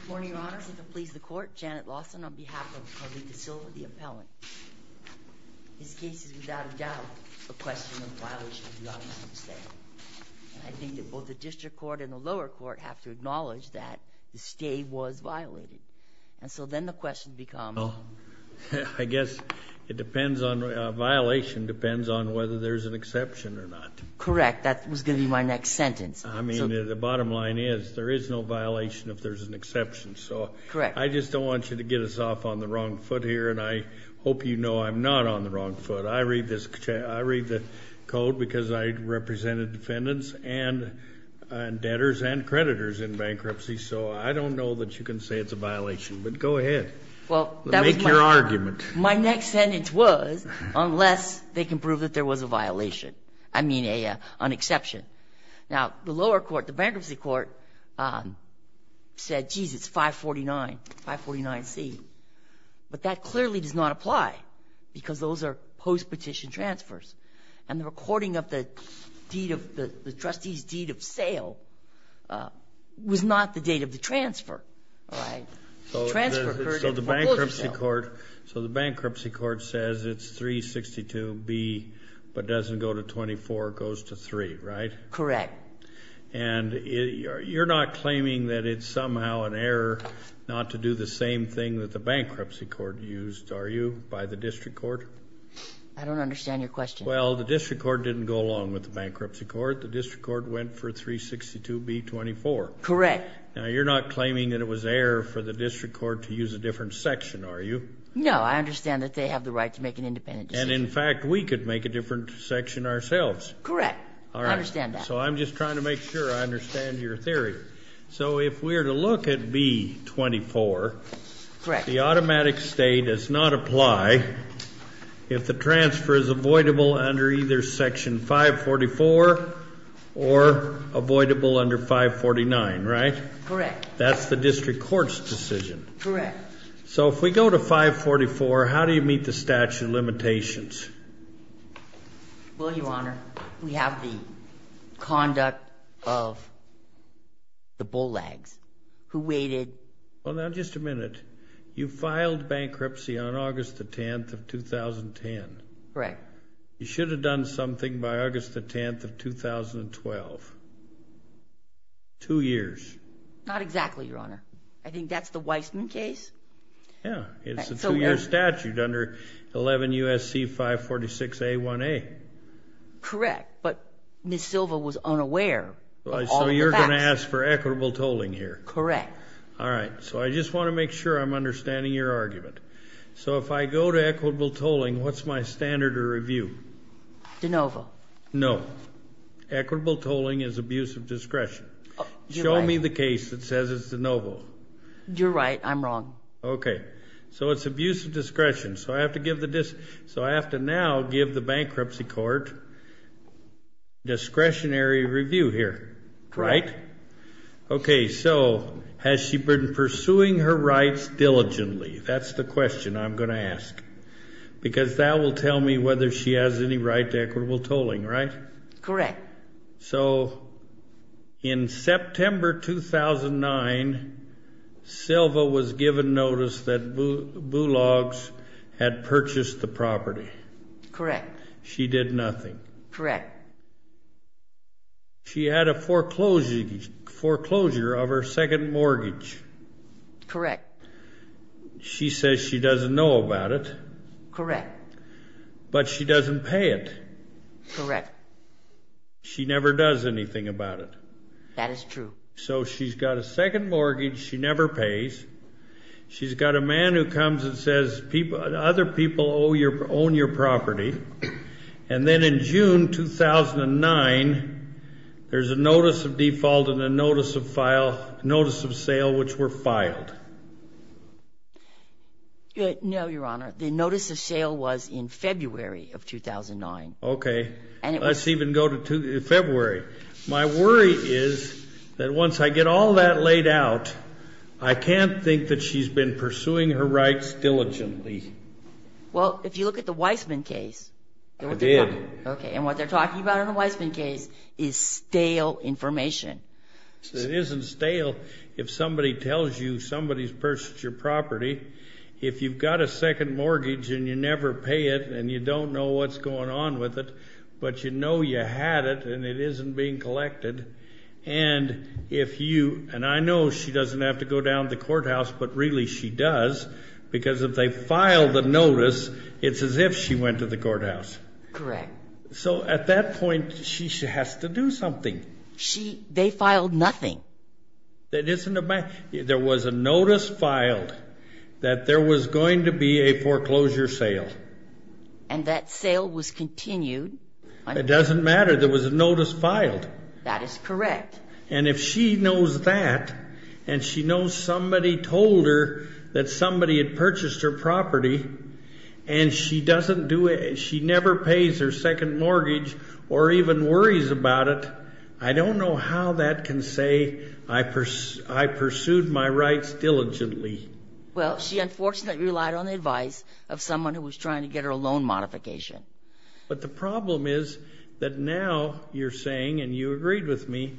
Good morning, Your Honors. If it pleases the Court, Janet Lawson on behalf of Jolita Silva, the appellant. This case is without a doubt a question of violation of the automatic stay. I think that both the district court and the lower court have to acknowledge that the stay was violated. And so then the question becomes... I guess it depends on... a violation depends on whether there's an exception or not. Correct. That was going to be my next sentence. I mean, the bottom line is there is no violation if there's an exception. Correct. I just don't want you to get us off on the wrong foot here, and I hope you know I'm not on the wrong foot. I read the code because I represented defendants and debtors and creditors in bankruptcy, so I don't know that you can say it's a violation, but go ahead. Make your argument. My next sentence was, unless they can prove that there was a violation, I mean an exception. Now, the lower court, the bankruptcy court, said, geez, it's 549, 549C. But that clearly does not apply because those are post-petition transfers, and the recording of the trustee's deed of sale was not the date of the transfer, right? So the bankruptcy court says it's 362B, but doesn't go to 24, goes to 3, right? Correct. And you're not claiming that it's somehow an error not to do the same thing that the bankruptcy court used, are you, by the district court? I don't understand your question. Well, the district court didn't go along with the bankruptcy court. The district court went for 362B, 24. Correct. Now, you're not claiming that it was error for the district court to use a different section, are you? No, I understand that they have the right to make an independent decision. And, in fact, we could make a different section ourselves. Correct. I understand that. So I'm just trying to make sure I understand your theory. So if we're to look at B24, the automatic state does not apply if the transfer is avoidable under either Section 544 or avoidable under 549, right? Correct. That's the district court's decision. Correct. So if we go to 544, how do you meet the statute of limitations? Well, Your Honor, we have the conduct of the bull lags who waited. Well, now, just a minute. You filed bankruptcy on August the 10th of 2010. Correct. You should have done something by August the 10th of 2012, two years. Not exactly, Your Honor. I think that's the Weissman case. Yeah, it's a two-year statute under 11 U.S.C. 546A1A. Correct, but Ms. Silva was unaware of all the facts. So you're going to ask for equitable tolling here. Correct. All right. So I just want to make sure I'm understanding your argument. So if I go to equitable tolling, what's my standard of review? De novo. No. Show me the case that says it's de novo. You're right. I'm wrong. Okay. So it's abuse of discretion. So I have to now give the bankruptcy court discretionary review here, right? Correct. Okay. So has she been pursuing her rights diligently? That's the question I'm going to ask because that will tell me whether she has any right to equitable tolling, right? Correct. So in September 2009, Silva was given notice that Bulogs had purchased the property. Correct. She did nothing. Correct. She had a foreclosure of her second mortgage. Correct. She says she doesn't know about it. Correct. But she doesn't pay it. Correct. She never does anything about it. That is true. So she's got a second mortgage she never pays. She's got a man who comes and says other people own your property. And then in June 2009, there's a notice of default and a notice of sale which were filed. No, Your Honor. The notice of sale was in February of 2009. Okay. Let's even go to February. My worry is that once I get all that laid out, I can't think that she's been pursuing her rights diligently. Well, if you look at the Weisman case. I did. Okay. And what they're talking about in the Weisman case is stale information. It isn't stale if somebody tells you somebody's purchased your property. If you've got a second mortgage and you never pay it and you don't know what's going on with it, but you know you had it and it isn't being collected, and if you, and I know she doesn't have to go down to the courthouse, but really she does, because if they file the notice, it's as if she went to the courthouse. Correct. So at that point, she has to do something. They filed nothing. There was a notice filed that there was going to be a foreclosure sale. And that sale was continued. It doesn't matter. There was a notice filed. That is correct. And if she knows that and she knows somebody told her that somebody had purchased her property and she doesn't do it, she never pays her second mortgage or even worries about it, I don't know how that can say I pursued my rights diligently. Well, she unfortunately relied on the advice of someone who was trying to get her loan modification. But the problem is that now you're saying, and you agreed with me,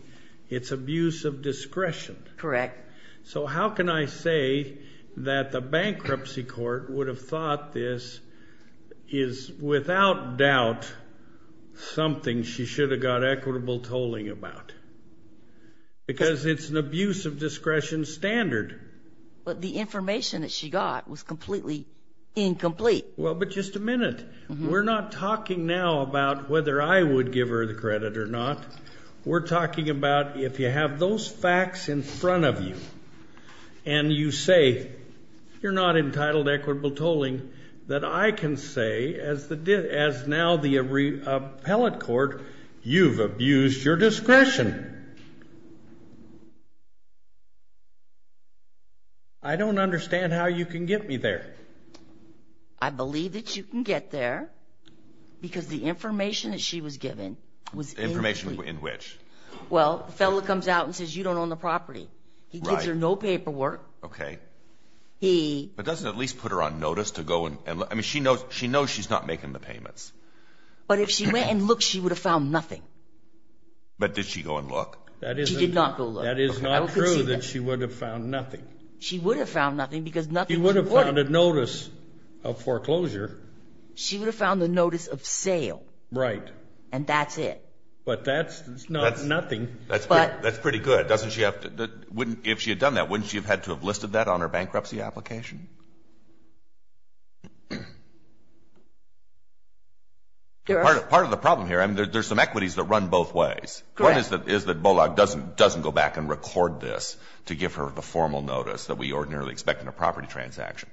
it's abuse of discretion. Correct. So how can I say that the bankruptcy court would have thought this is, without doubt, something she should have got equitable tolling about? Because it's an abuse of discretion standard. But the information that she got was completely incomplete. Well, but just a minute. We're not talking now about whether I would give her the credit or not. We're talking about if you have those facts in front of you and you say you're not entitled to equitable tolling, that I can say as now the appellate court, you've abused your discretion. I don't understand how you can get me there. I believe that you can get there because the information that she was given was incomplete. Information in which? Well, the fellow comes out and says you don't own the property. He gives her no paperwork. Okay. But doesn't it at least put her on notice to go and look? I mean, she knows she's not making the payments. But if she went and looked, she would have found nothing. But did she go and look? She did not go look. That is not true that she would have found nothing. She would have found nothing because nothing she would have. She would have found a notice of foreclosure. She would have found the notice of sale. Right. And that's it. But that's nothing. That's pretty good. If she had done that, wouldn't she have had to have listed that on her bankruptcy application? Part of the problem here, I mean, there's some equities that run both ways. One is that Bollock doesn't go back and record this to give her the formal notice that we ordinarily expect in a property transaction.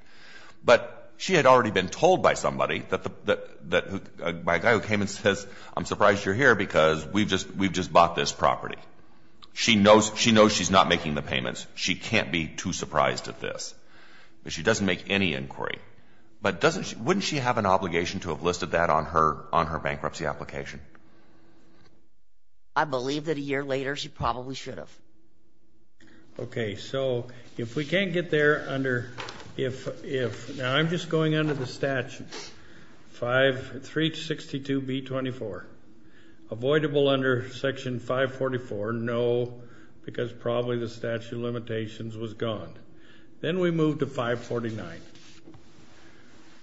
But she had already been told by somebody, by a guy who came and says, I'm surprised you're here because we've just bought this property. She knows she's not making the payments. She can't be too surprised at this. But she doesn't make any inquiry. But wouldn't she have an obligation to have listed that on her bankruptcy application? I believe that a year later she probably should have. Okay. So if we can't get there under if, now I'm just going under the statute, 362B24. Avoidable under Section 544, no, because probably the statute of limitations was gone. Then we move to 549.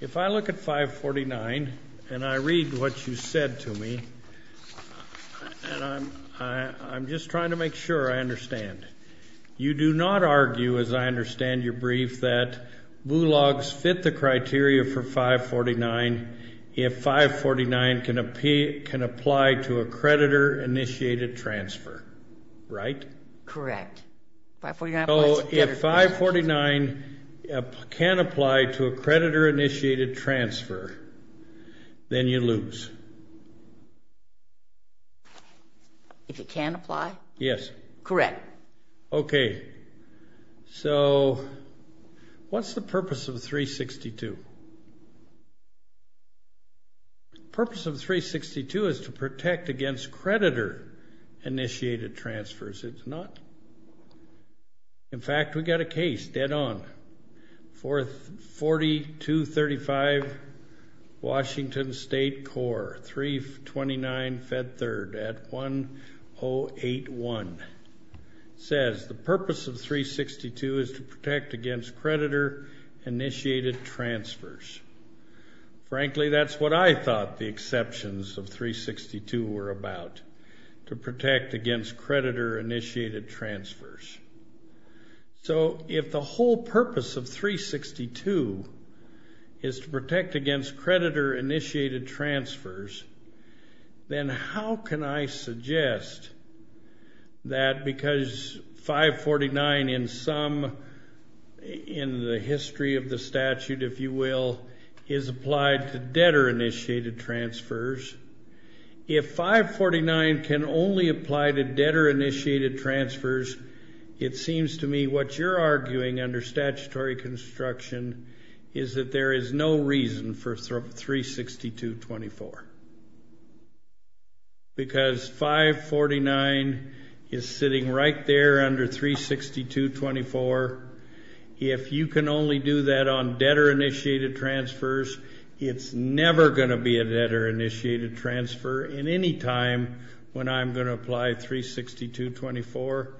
If I look at 549 and I read what you said to me, and I'm just trying to make sure I understand. You do not argue, as I understand your brief, that Bollock's fit the criteria for 549 if 549 can apply to a creditor-initiated transfer, right? Correct. So if 549 can apply to a creditor-initiated transfer, then you lose. If it can apply? Yes. Correct. Okay. So what's the purpose of 362? The purpose of 362 is to protect against creditor-initiated transfers. It's not. In fact, we've got a case dead on. 4235 Washington State Corps, 329 Fed Third at 1081. It says the purpose of 362 is to protect against creditor-initiated transfers. Frankly, that's what I thought the exceptions of 362 were about, to protect against creditor-initiated transfers. So if the whole purpose of 362 is to protect against creditor-initiated transfers, then how can I suggest that because 549 in some, in the history of the statute, if you will, is applied to debtor-initiated transfers, if 549 can only apply to debtor-initiated transfers, it seems to me what you're arguing under statutory construction is that there is no reason for 362.24 because 549 is sitting right there under 362.24. If you can only do that on debtor-initiated transfers, it's never going to be a debtor-initiated transfer in any time when I'm going to apply 362.24.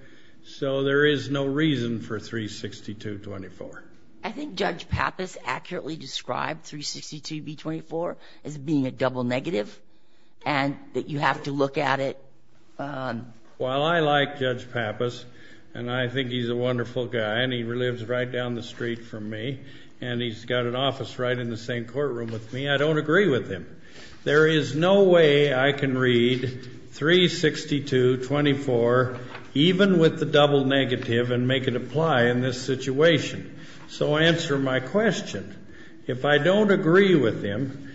So there is no reason for 362.24. I think Judge Pappas accurately described 362.24 as being a double negative and that you have to look at it. While I like Judge Pappas and I think he's a wonderful guy and he lives right down the street from me and he's got an office right in the same courtroom with me, I don't agree with him. There is no way I can read 362.24 even with the double negative and make it apply in this situation. So answer my question. If I don't agree with him,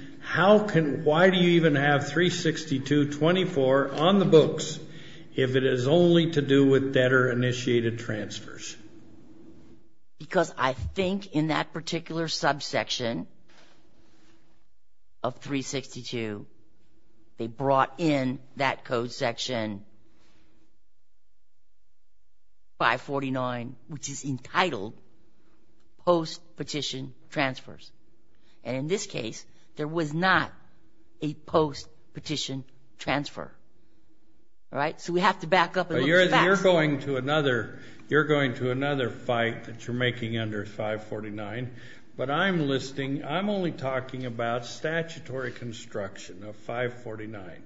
why do you even have 362.24 on the books if it is only to do with debtor-initiated transfers? Because I think in that particular subsection of 362, they brought in that code section 549, which is entitled post-petition transfers. And in this case, there was not a post-petition transfer, right? So we have to back up and look at the facts. You're going to another fight that you're making under 549. But I'm listing, I'm only talking about statutory construction of 549.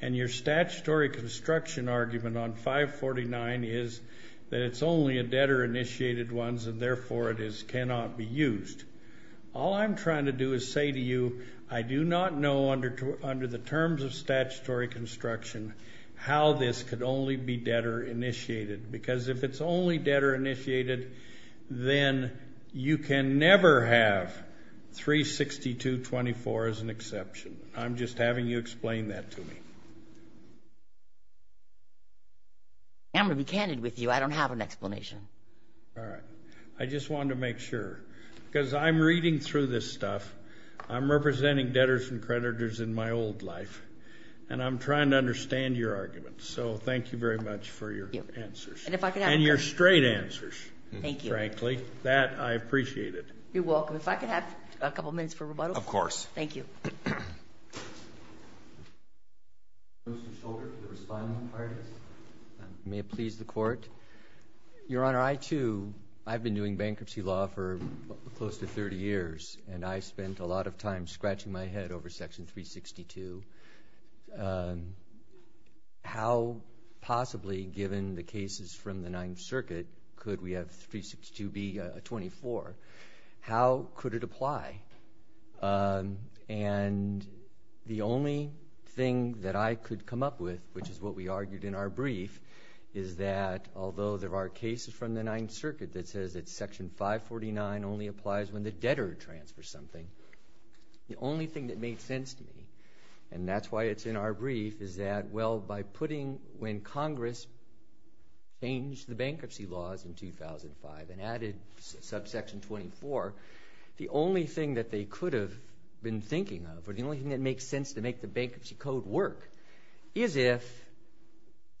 And your statutory construction argument on 549 is that it's only a debtor-initiated ones and, therefore, it cannot be used. All I'm trying to do is say to you, I do not know under the terms of statutory construction how this could only be debtor-initiated. Because if it's only debtor-initiated, then you can never have 362.24 as an exception. I'm just having you explain that to me. I'm going to be candid with you. All right. I just wanted to make sure. Because I'm reading through this stuff. I'm representing debtors and creditors in my old life. And I'm trying to understand your argument. So thank you very much for your answers. And your straight answers, frankly. That, I appreciate it. You're welcome. If I could have a couple minutes for rebuttal? Of course. Thank you. May it please the Court. Your Honor, I, too, I've been doing bankruptcy law for close to 30 years. And I spent a lot of time scratching my head over Section 362. How possibly, given the cases from the Ninth Circuit, could we have 362 be a 24? How could it apply? And the only thing that I could come up with, which is what we argued in our brief, is that although there are cases from the Ninth Circuit that says that Section 549 only applies when the debtor transfers something, the only thing that made sense to me, and that's why it's in our brief, is that, well, by putting when Congress changed the bankruptcy laws in 2005 and added subsection 24, the only thing that they could have been thinking of, or the only thing that makes sense to make the bankruptcy code work, is if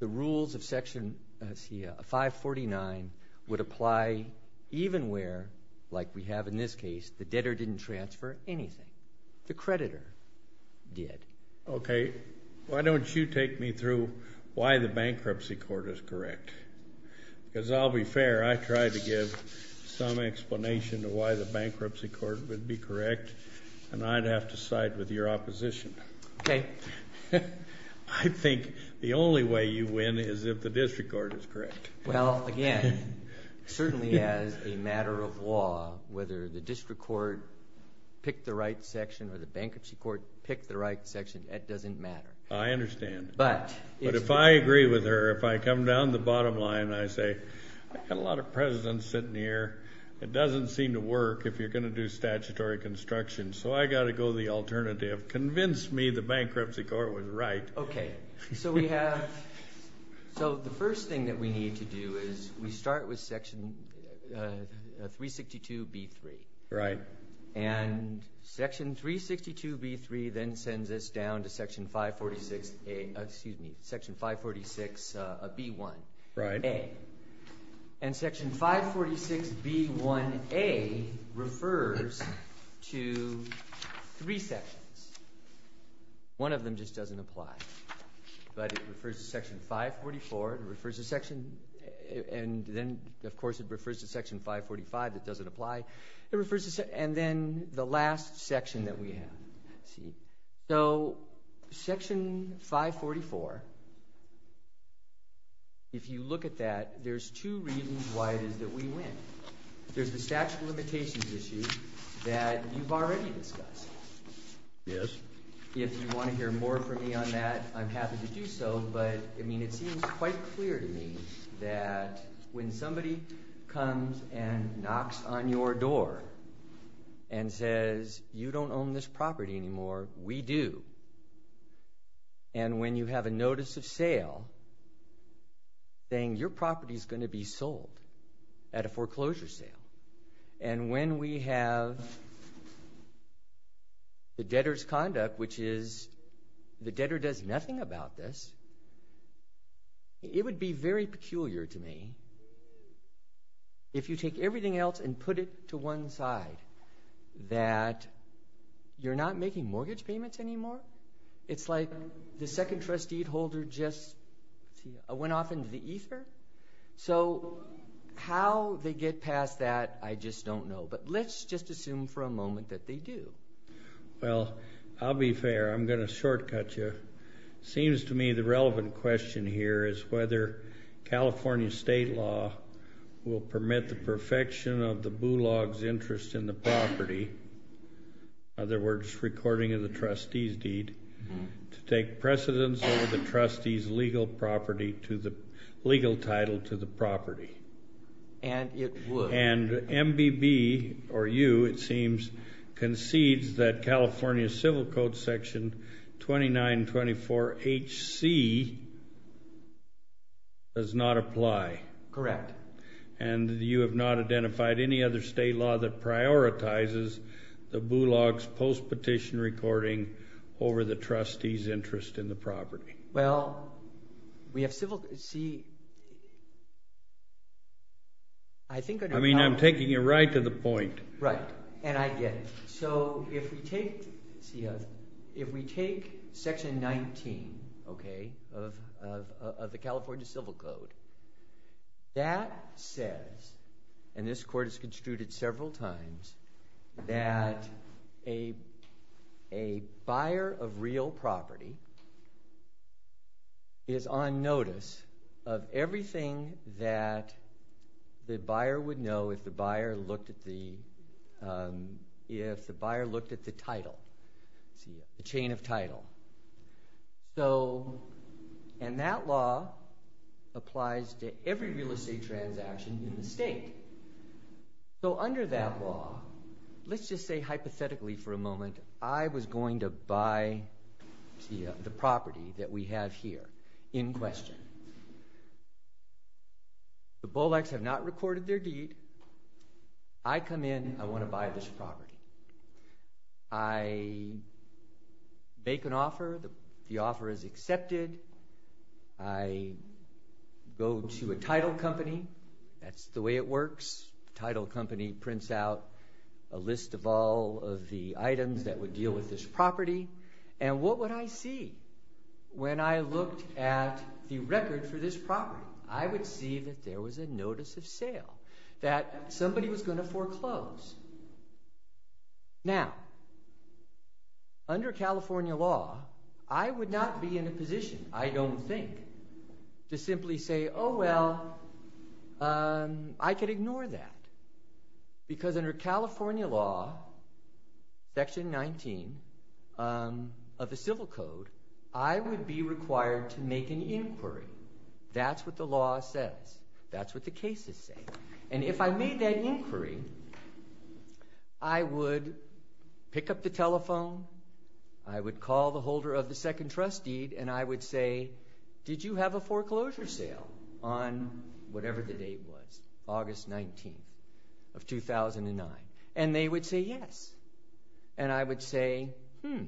the rules of Section 549 would apply even where, like we have in this case, the debtor didn't transfer anything. The creditor did. Okay. Why don't you take me through why the Bankruptcy Court is correct? Because I'll be fair. I tried to give some explanation of why the Bankruptcy Court would be correct, and I'd have to side with your opposition. Okay. I think the only way you win is if the District Court is correct. Well, again, certainly as a matter of law, whether the District Court pick the right section or the Bankruptcy Court pick the right section, that doesn't matter. I understand. But if I agree with her, if I come down the bottom line and I say, I've got a lot of presidents sitting here. It doesn't seem to work if you're going to do statutory construction, so I've got to go the alternative. Convince me the Bankruptcy Court was right. Okay. So we have – so the first thing that we need to do is we start with Section 362B3. Right. And Section 362B3 then sends us down to Section 546A – excuse me, Section 546B1A. And Section 546B1A refers to three sections. One of them just doesn't apply. But it refers to Section 544. It refers to Section – and then, of course, it refers to Section 545 that doesn't apply. It refers to – and then the last section that we have. See? So Section 544, if you look at that, there's two reasons why it is that we win. There's the statute of limitations issue that you've already discussed. Yes. If you want to hear more from me on that, I'm happy to do so. But, I mean, it seems quite clear to me that when somebody comes and knocks on your door and says, You don't own this property anymore. We do. And when you have a notice of sale saying your property is going to be sold at a foreclosure sale. And when we have the debtor's conduct, which is the debtor does nothing about this, it would be very peculiar to me if you take everything else and put it to one side, that you're not making mortgage payments anymore. It's like the second trustee holder just went off into the ether. So how they get past that, I just don't know. But let's just assume for a moment that they do. Well, I'll be fair. I'm going to shortcut you. It seems to me the relevant question here is whether California state law will permit the perfection of the bulog's interest in the property, in other words, recording of the trustee's deed, to take precedence over the trustee's legal title to the property. And it would. And MBB, or you, it seems, concedes that California Civil Code section 2924HC does not apply. Correct. And you have not identified any other state law that prioritizes the bulog's post-petition recording over the trustee's interest in the property. Well, we have civil – see, I think – I mean, I'm taking you right to the point. Right. And I get it. So if we take section 19 of the California Civil Code, that says – and this court has construed it several times – that a buyer of real property is on notice of everything that the buyer would know if the buyer looked at the title, the chain of title. And that law applies to every real estate transaction in the state. So under that law, let's just say hypothetically for a moment I was going to buy the property that we have here in question. The bulogs have not recorded their deed. I come in. I want to buy this property. I make an offer. The offer is accepted. I go to a title company. That's the way it works. Title company prints out a list of all of the items that would deal with this property. And what would I see when I looked at the record for this property? I would see that there was a notice of sale, that somebody was going to foreclose. Now, under California law, I would not be in a position, I don't think, to simply say, oh, well, I could ignore that. Because under California law, section 19 of the Civil Code, I would be required to make an inquiry. That's what the law says. That's what the cases say. And if I made that inquiry, I would pick up the telephone. I would call the holder of the second trust deed. And I would say, did you have a foreclosure sale on whatever the date was, August 19th of 2009? And they would say yes. And I would say, hmm,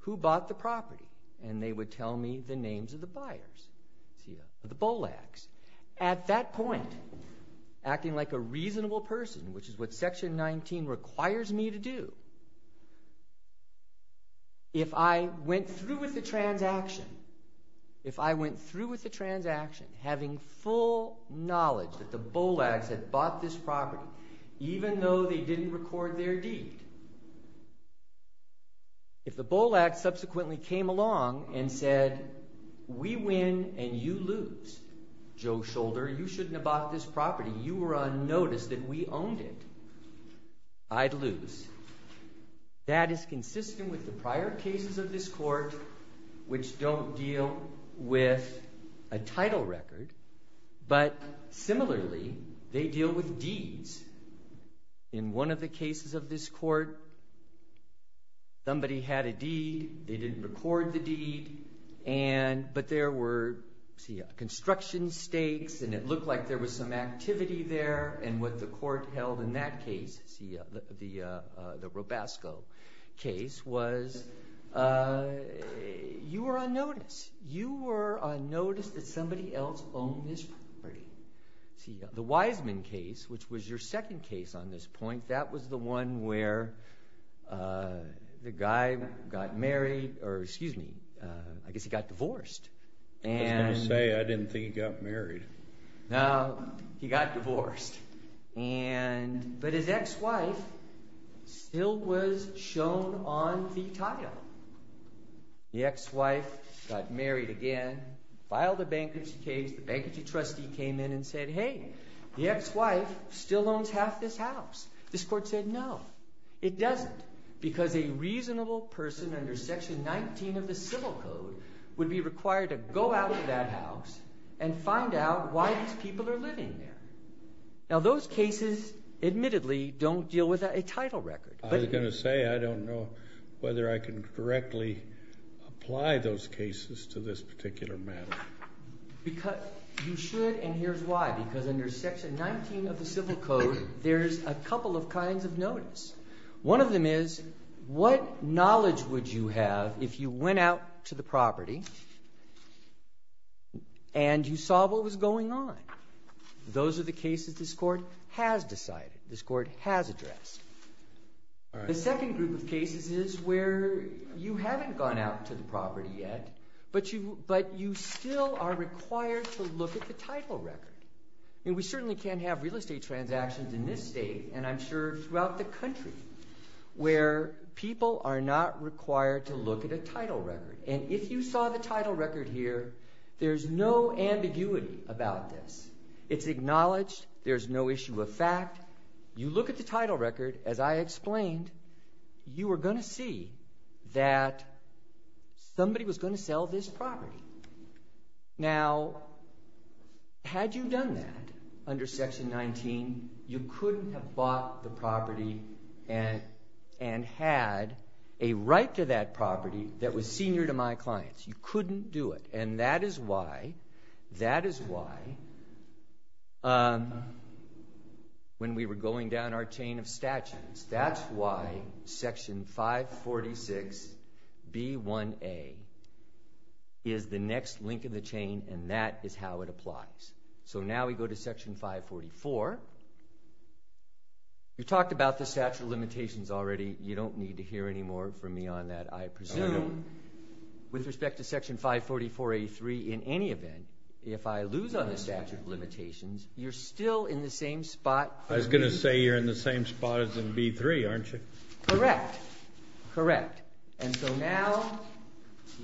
who bought the property? And they would tell me the names of the buyers, the bulogs. At that point, acting like a reasonable person, which is what section 19 requires me to do, if I went through with the transaction, if I went through with the transaction having full knowledge that the bulogs had bought this property, even though they didn't record their deed, if the bulogs subsequently came along and said, we win and you lose, Joe Shoulder, you shouldn't have bought this property. You were on notice that we owned it. I'd lose. That is consistent with the prior cases of this court, which don't deal with a title record. But similarly, they deal with deeds. In one of the cases of this court, somebody had a deed. They didn't record the deed. But there were construction stakes, and it looked like there was some activity there. And what the court held in that case, the Robasco case, was you were on notice. You were on notice that somebody else owned this property. The Wiseman case, which was your second case on this point, that was the one where the guy got married or, excuse me, I guess he got divorced. I was going to say, I didn't think he got married. No, he got divorced. But his ex-wife still was shown on the title. The ex-wife got married again, filed a bankruptcy case. The bankruptcy trustee came in and said, hey, the ex-wife still owns half this house. This court said no, it doesn't, because a reasonable person under Section 19 of the Civil Code would be required to go out of that house and find out why these people are living there. Now, those cases admittedly don't deal with a title record. I was going to say I don't know whether I can directly apply those cases to this particular matter. You should, and here's why. Because under Section 19 of the Civil Code, there's a couple of kinds of notice. One of them is what knowledge would you have if you went out to the property and you saw what was going on? Those are the cases this court has decided, this court has addressed. The second group of cases is where you haven't gone out to the property yet, but you still are required to look at the title record. We certainly can't have real estate transactions in this state, and I'm sure throughout the country, where people are not required to look at a title record. And if you saw the title record here, there's no ambiguity about this. It's acknowledged. There's no issue of fact. You look at the title record, as I explained, you are going to see that somebody was going to sell this property. Now, had you done that under Section 19, you couldn't have bought the property and had a right to that property that was senior to my clients. You couldn't do it. And that is why when we were going down our chain of statutes, that's why Section 546B1A is the next link in the chain, and that is how it applies. So now we go to Section 544. We talked about the statute of limitations already. You don't need to hear any more from me on that, I presume. With respect to Section 544A3, in any event, if I lose on the statute of limitations, you're still in the same spot. I was going to say you're in the same spot as in B3, aren't you? Correct. Correct. And so now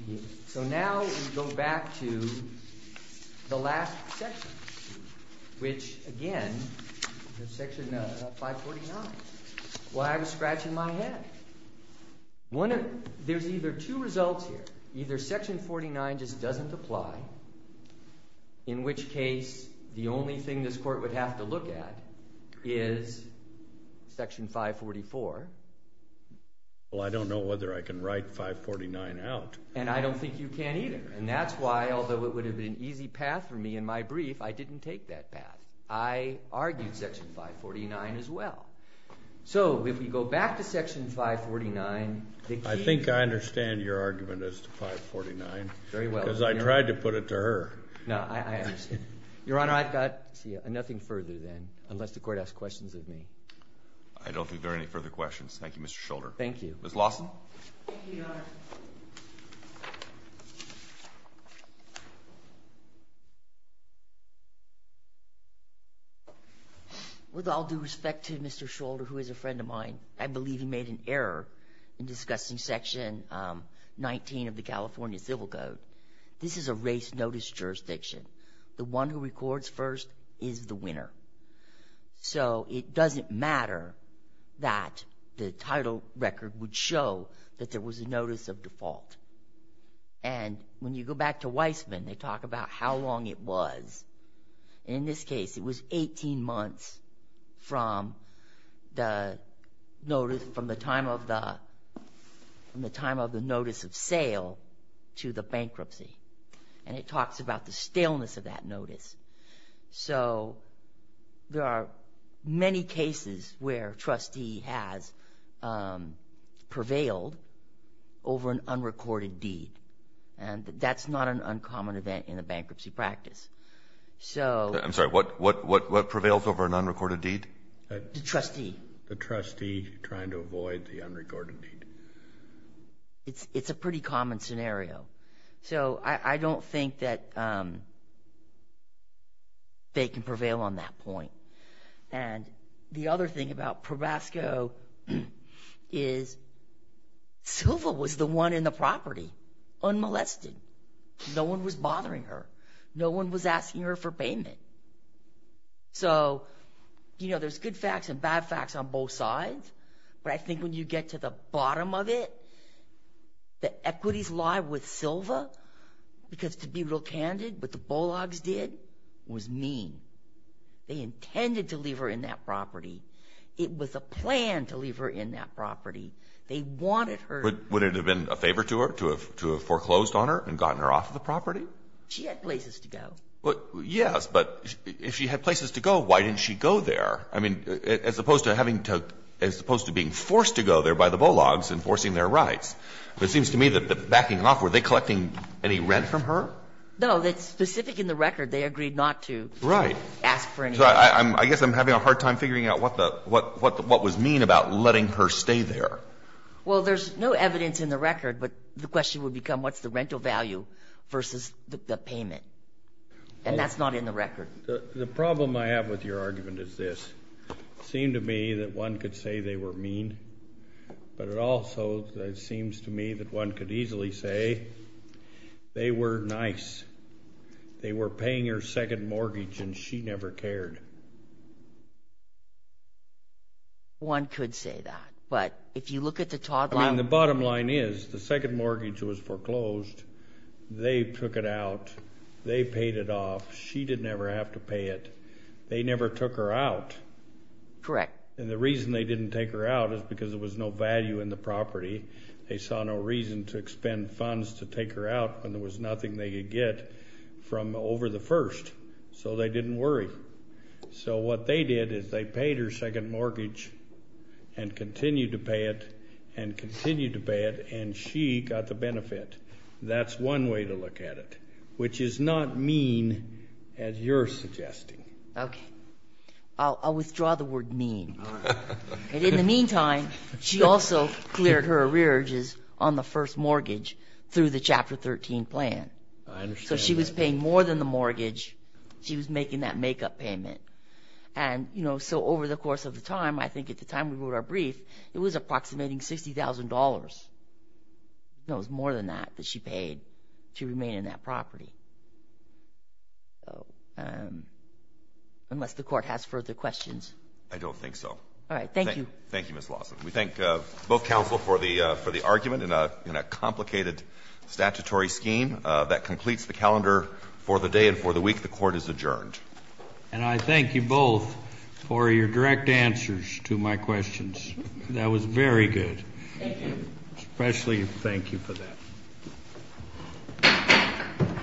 we go back to the last section, which, again, is Section 549. Well, I was scratching my head. There's either two results here. Either Section 49 just doesn't apply, in which case the only thing this court would have to look at is Section 544. Well, I don't know whether I can write 549 out. And I don't think you can either. And that's why, although it would have been an easy path for me in my brief, I didn't take that path. I argued Section 549 as well. So if we go back to Section 549, the key— I think I understand your argument as to 549. Very well. Because I tried to put it to her. No, I understand. Your Honor, I've got nothing further then, unless the court asks questions of me. I don't think there are any further questions. Thank you, Mr. Scholder. Thank you. Ms. Lawson. Thank you, Your Honor. With all due respect to Mr. Scholder, who is a friend of mine, I believe he made an error in discussing Section 19 of the California Civil Code. This is a race notice jurisdiction. The one who records first is the winner. So it doesn't matter that the title record would show that there was a notice of default. And when you go back to Weisman, they talk about how long it was. In this case, it was 18 months from the notice of sale to the bankruptcy. And it talks about the staleness of that notice. So there are many cases where a trustee has prevailed over an unrecorded deed. And that's not an uncommon event in a bankruptcy practice. I'm sorry. What prevails over an unrecorded deed? The trustee. The trustee trying to avoid the unrecorded deed. It's a pretty common scenario. So I don't think that they can prevail on that point. And the other thing about Probasco is Silva was the one in the property unmolested. No one was bothering her. No one was asking her for payment. So, you know, there's good facts and bad facts on both sides, but I think when you get to the bottom of it, the equities lie with Silva because, to be real candid, what the Bologs did was mean. They intended to leave her in that property. It was a plan to leave her in that property. They wanted her. Would it have been a favor to her to have foreclosed on her and gotten her off the property? She had places to go. Yes, but if she had places to go, why didn't she go there? I mean, as opposed to having to – as opposed to being forced to go there by the Bologs and forcing their rights. It seems to me that backing off, were they collecting any rent from her? No. It's specific in the record. They agreed not to ask for any rent. Right. I guess I'm having a hard time figuring out what the – what was mean about letting her stay there. Well, there's no evidence in the record, but the question would become what's the rental value versus the payment, and that's not in the record. The problem I have with your argument is this. It seemed to me that one could say they were mean, but it also seems to me that one could easily say they were nice. They were paying her second mortgage, and she never cared. One could say that, but if you look at the – I mean, the bottom line is the second mortgage was foreclosed. They took it out. They paid it off. She didn't ever have to pay it. They never took her out. Correct. And the reason they didn't take her out is because there was no value in the property. They saw no reason to expend funds to take her out when there was nothing they could get from over the first, so they didn't worry. So what they did is they paid her second mortgage and continued to pay it and continued to pay it, and she got the benefit. That's one way to look at it, which is not mean as you're suggesting. Okay. I'll withdraw the word mean. And in the meantime, she also cleared her arrearages on the first mortgage through the Chapter 13 plan. I understand that. She wasn't paying more than the mortgage. She was making that makeup payment. And, you know, so over the course of the time, I think at the time we wrote our brief, it was approximating $60,000. It was more than that that she paid to remain in that property. Unless the Court has further questions. I don't think so. All right. Thank you. Thank you, Ms. Lawson. We thank both counsel for the argument in a complicated statutory scheme that we have here. For the day and for the week, the Court is adjourned. And I thank you both for your direct answers to my questions. That was very good. Thank you. Especially thank you for that.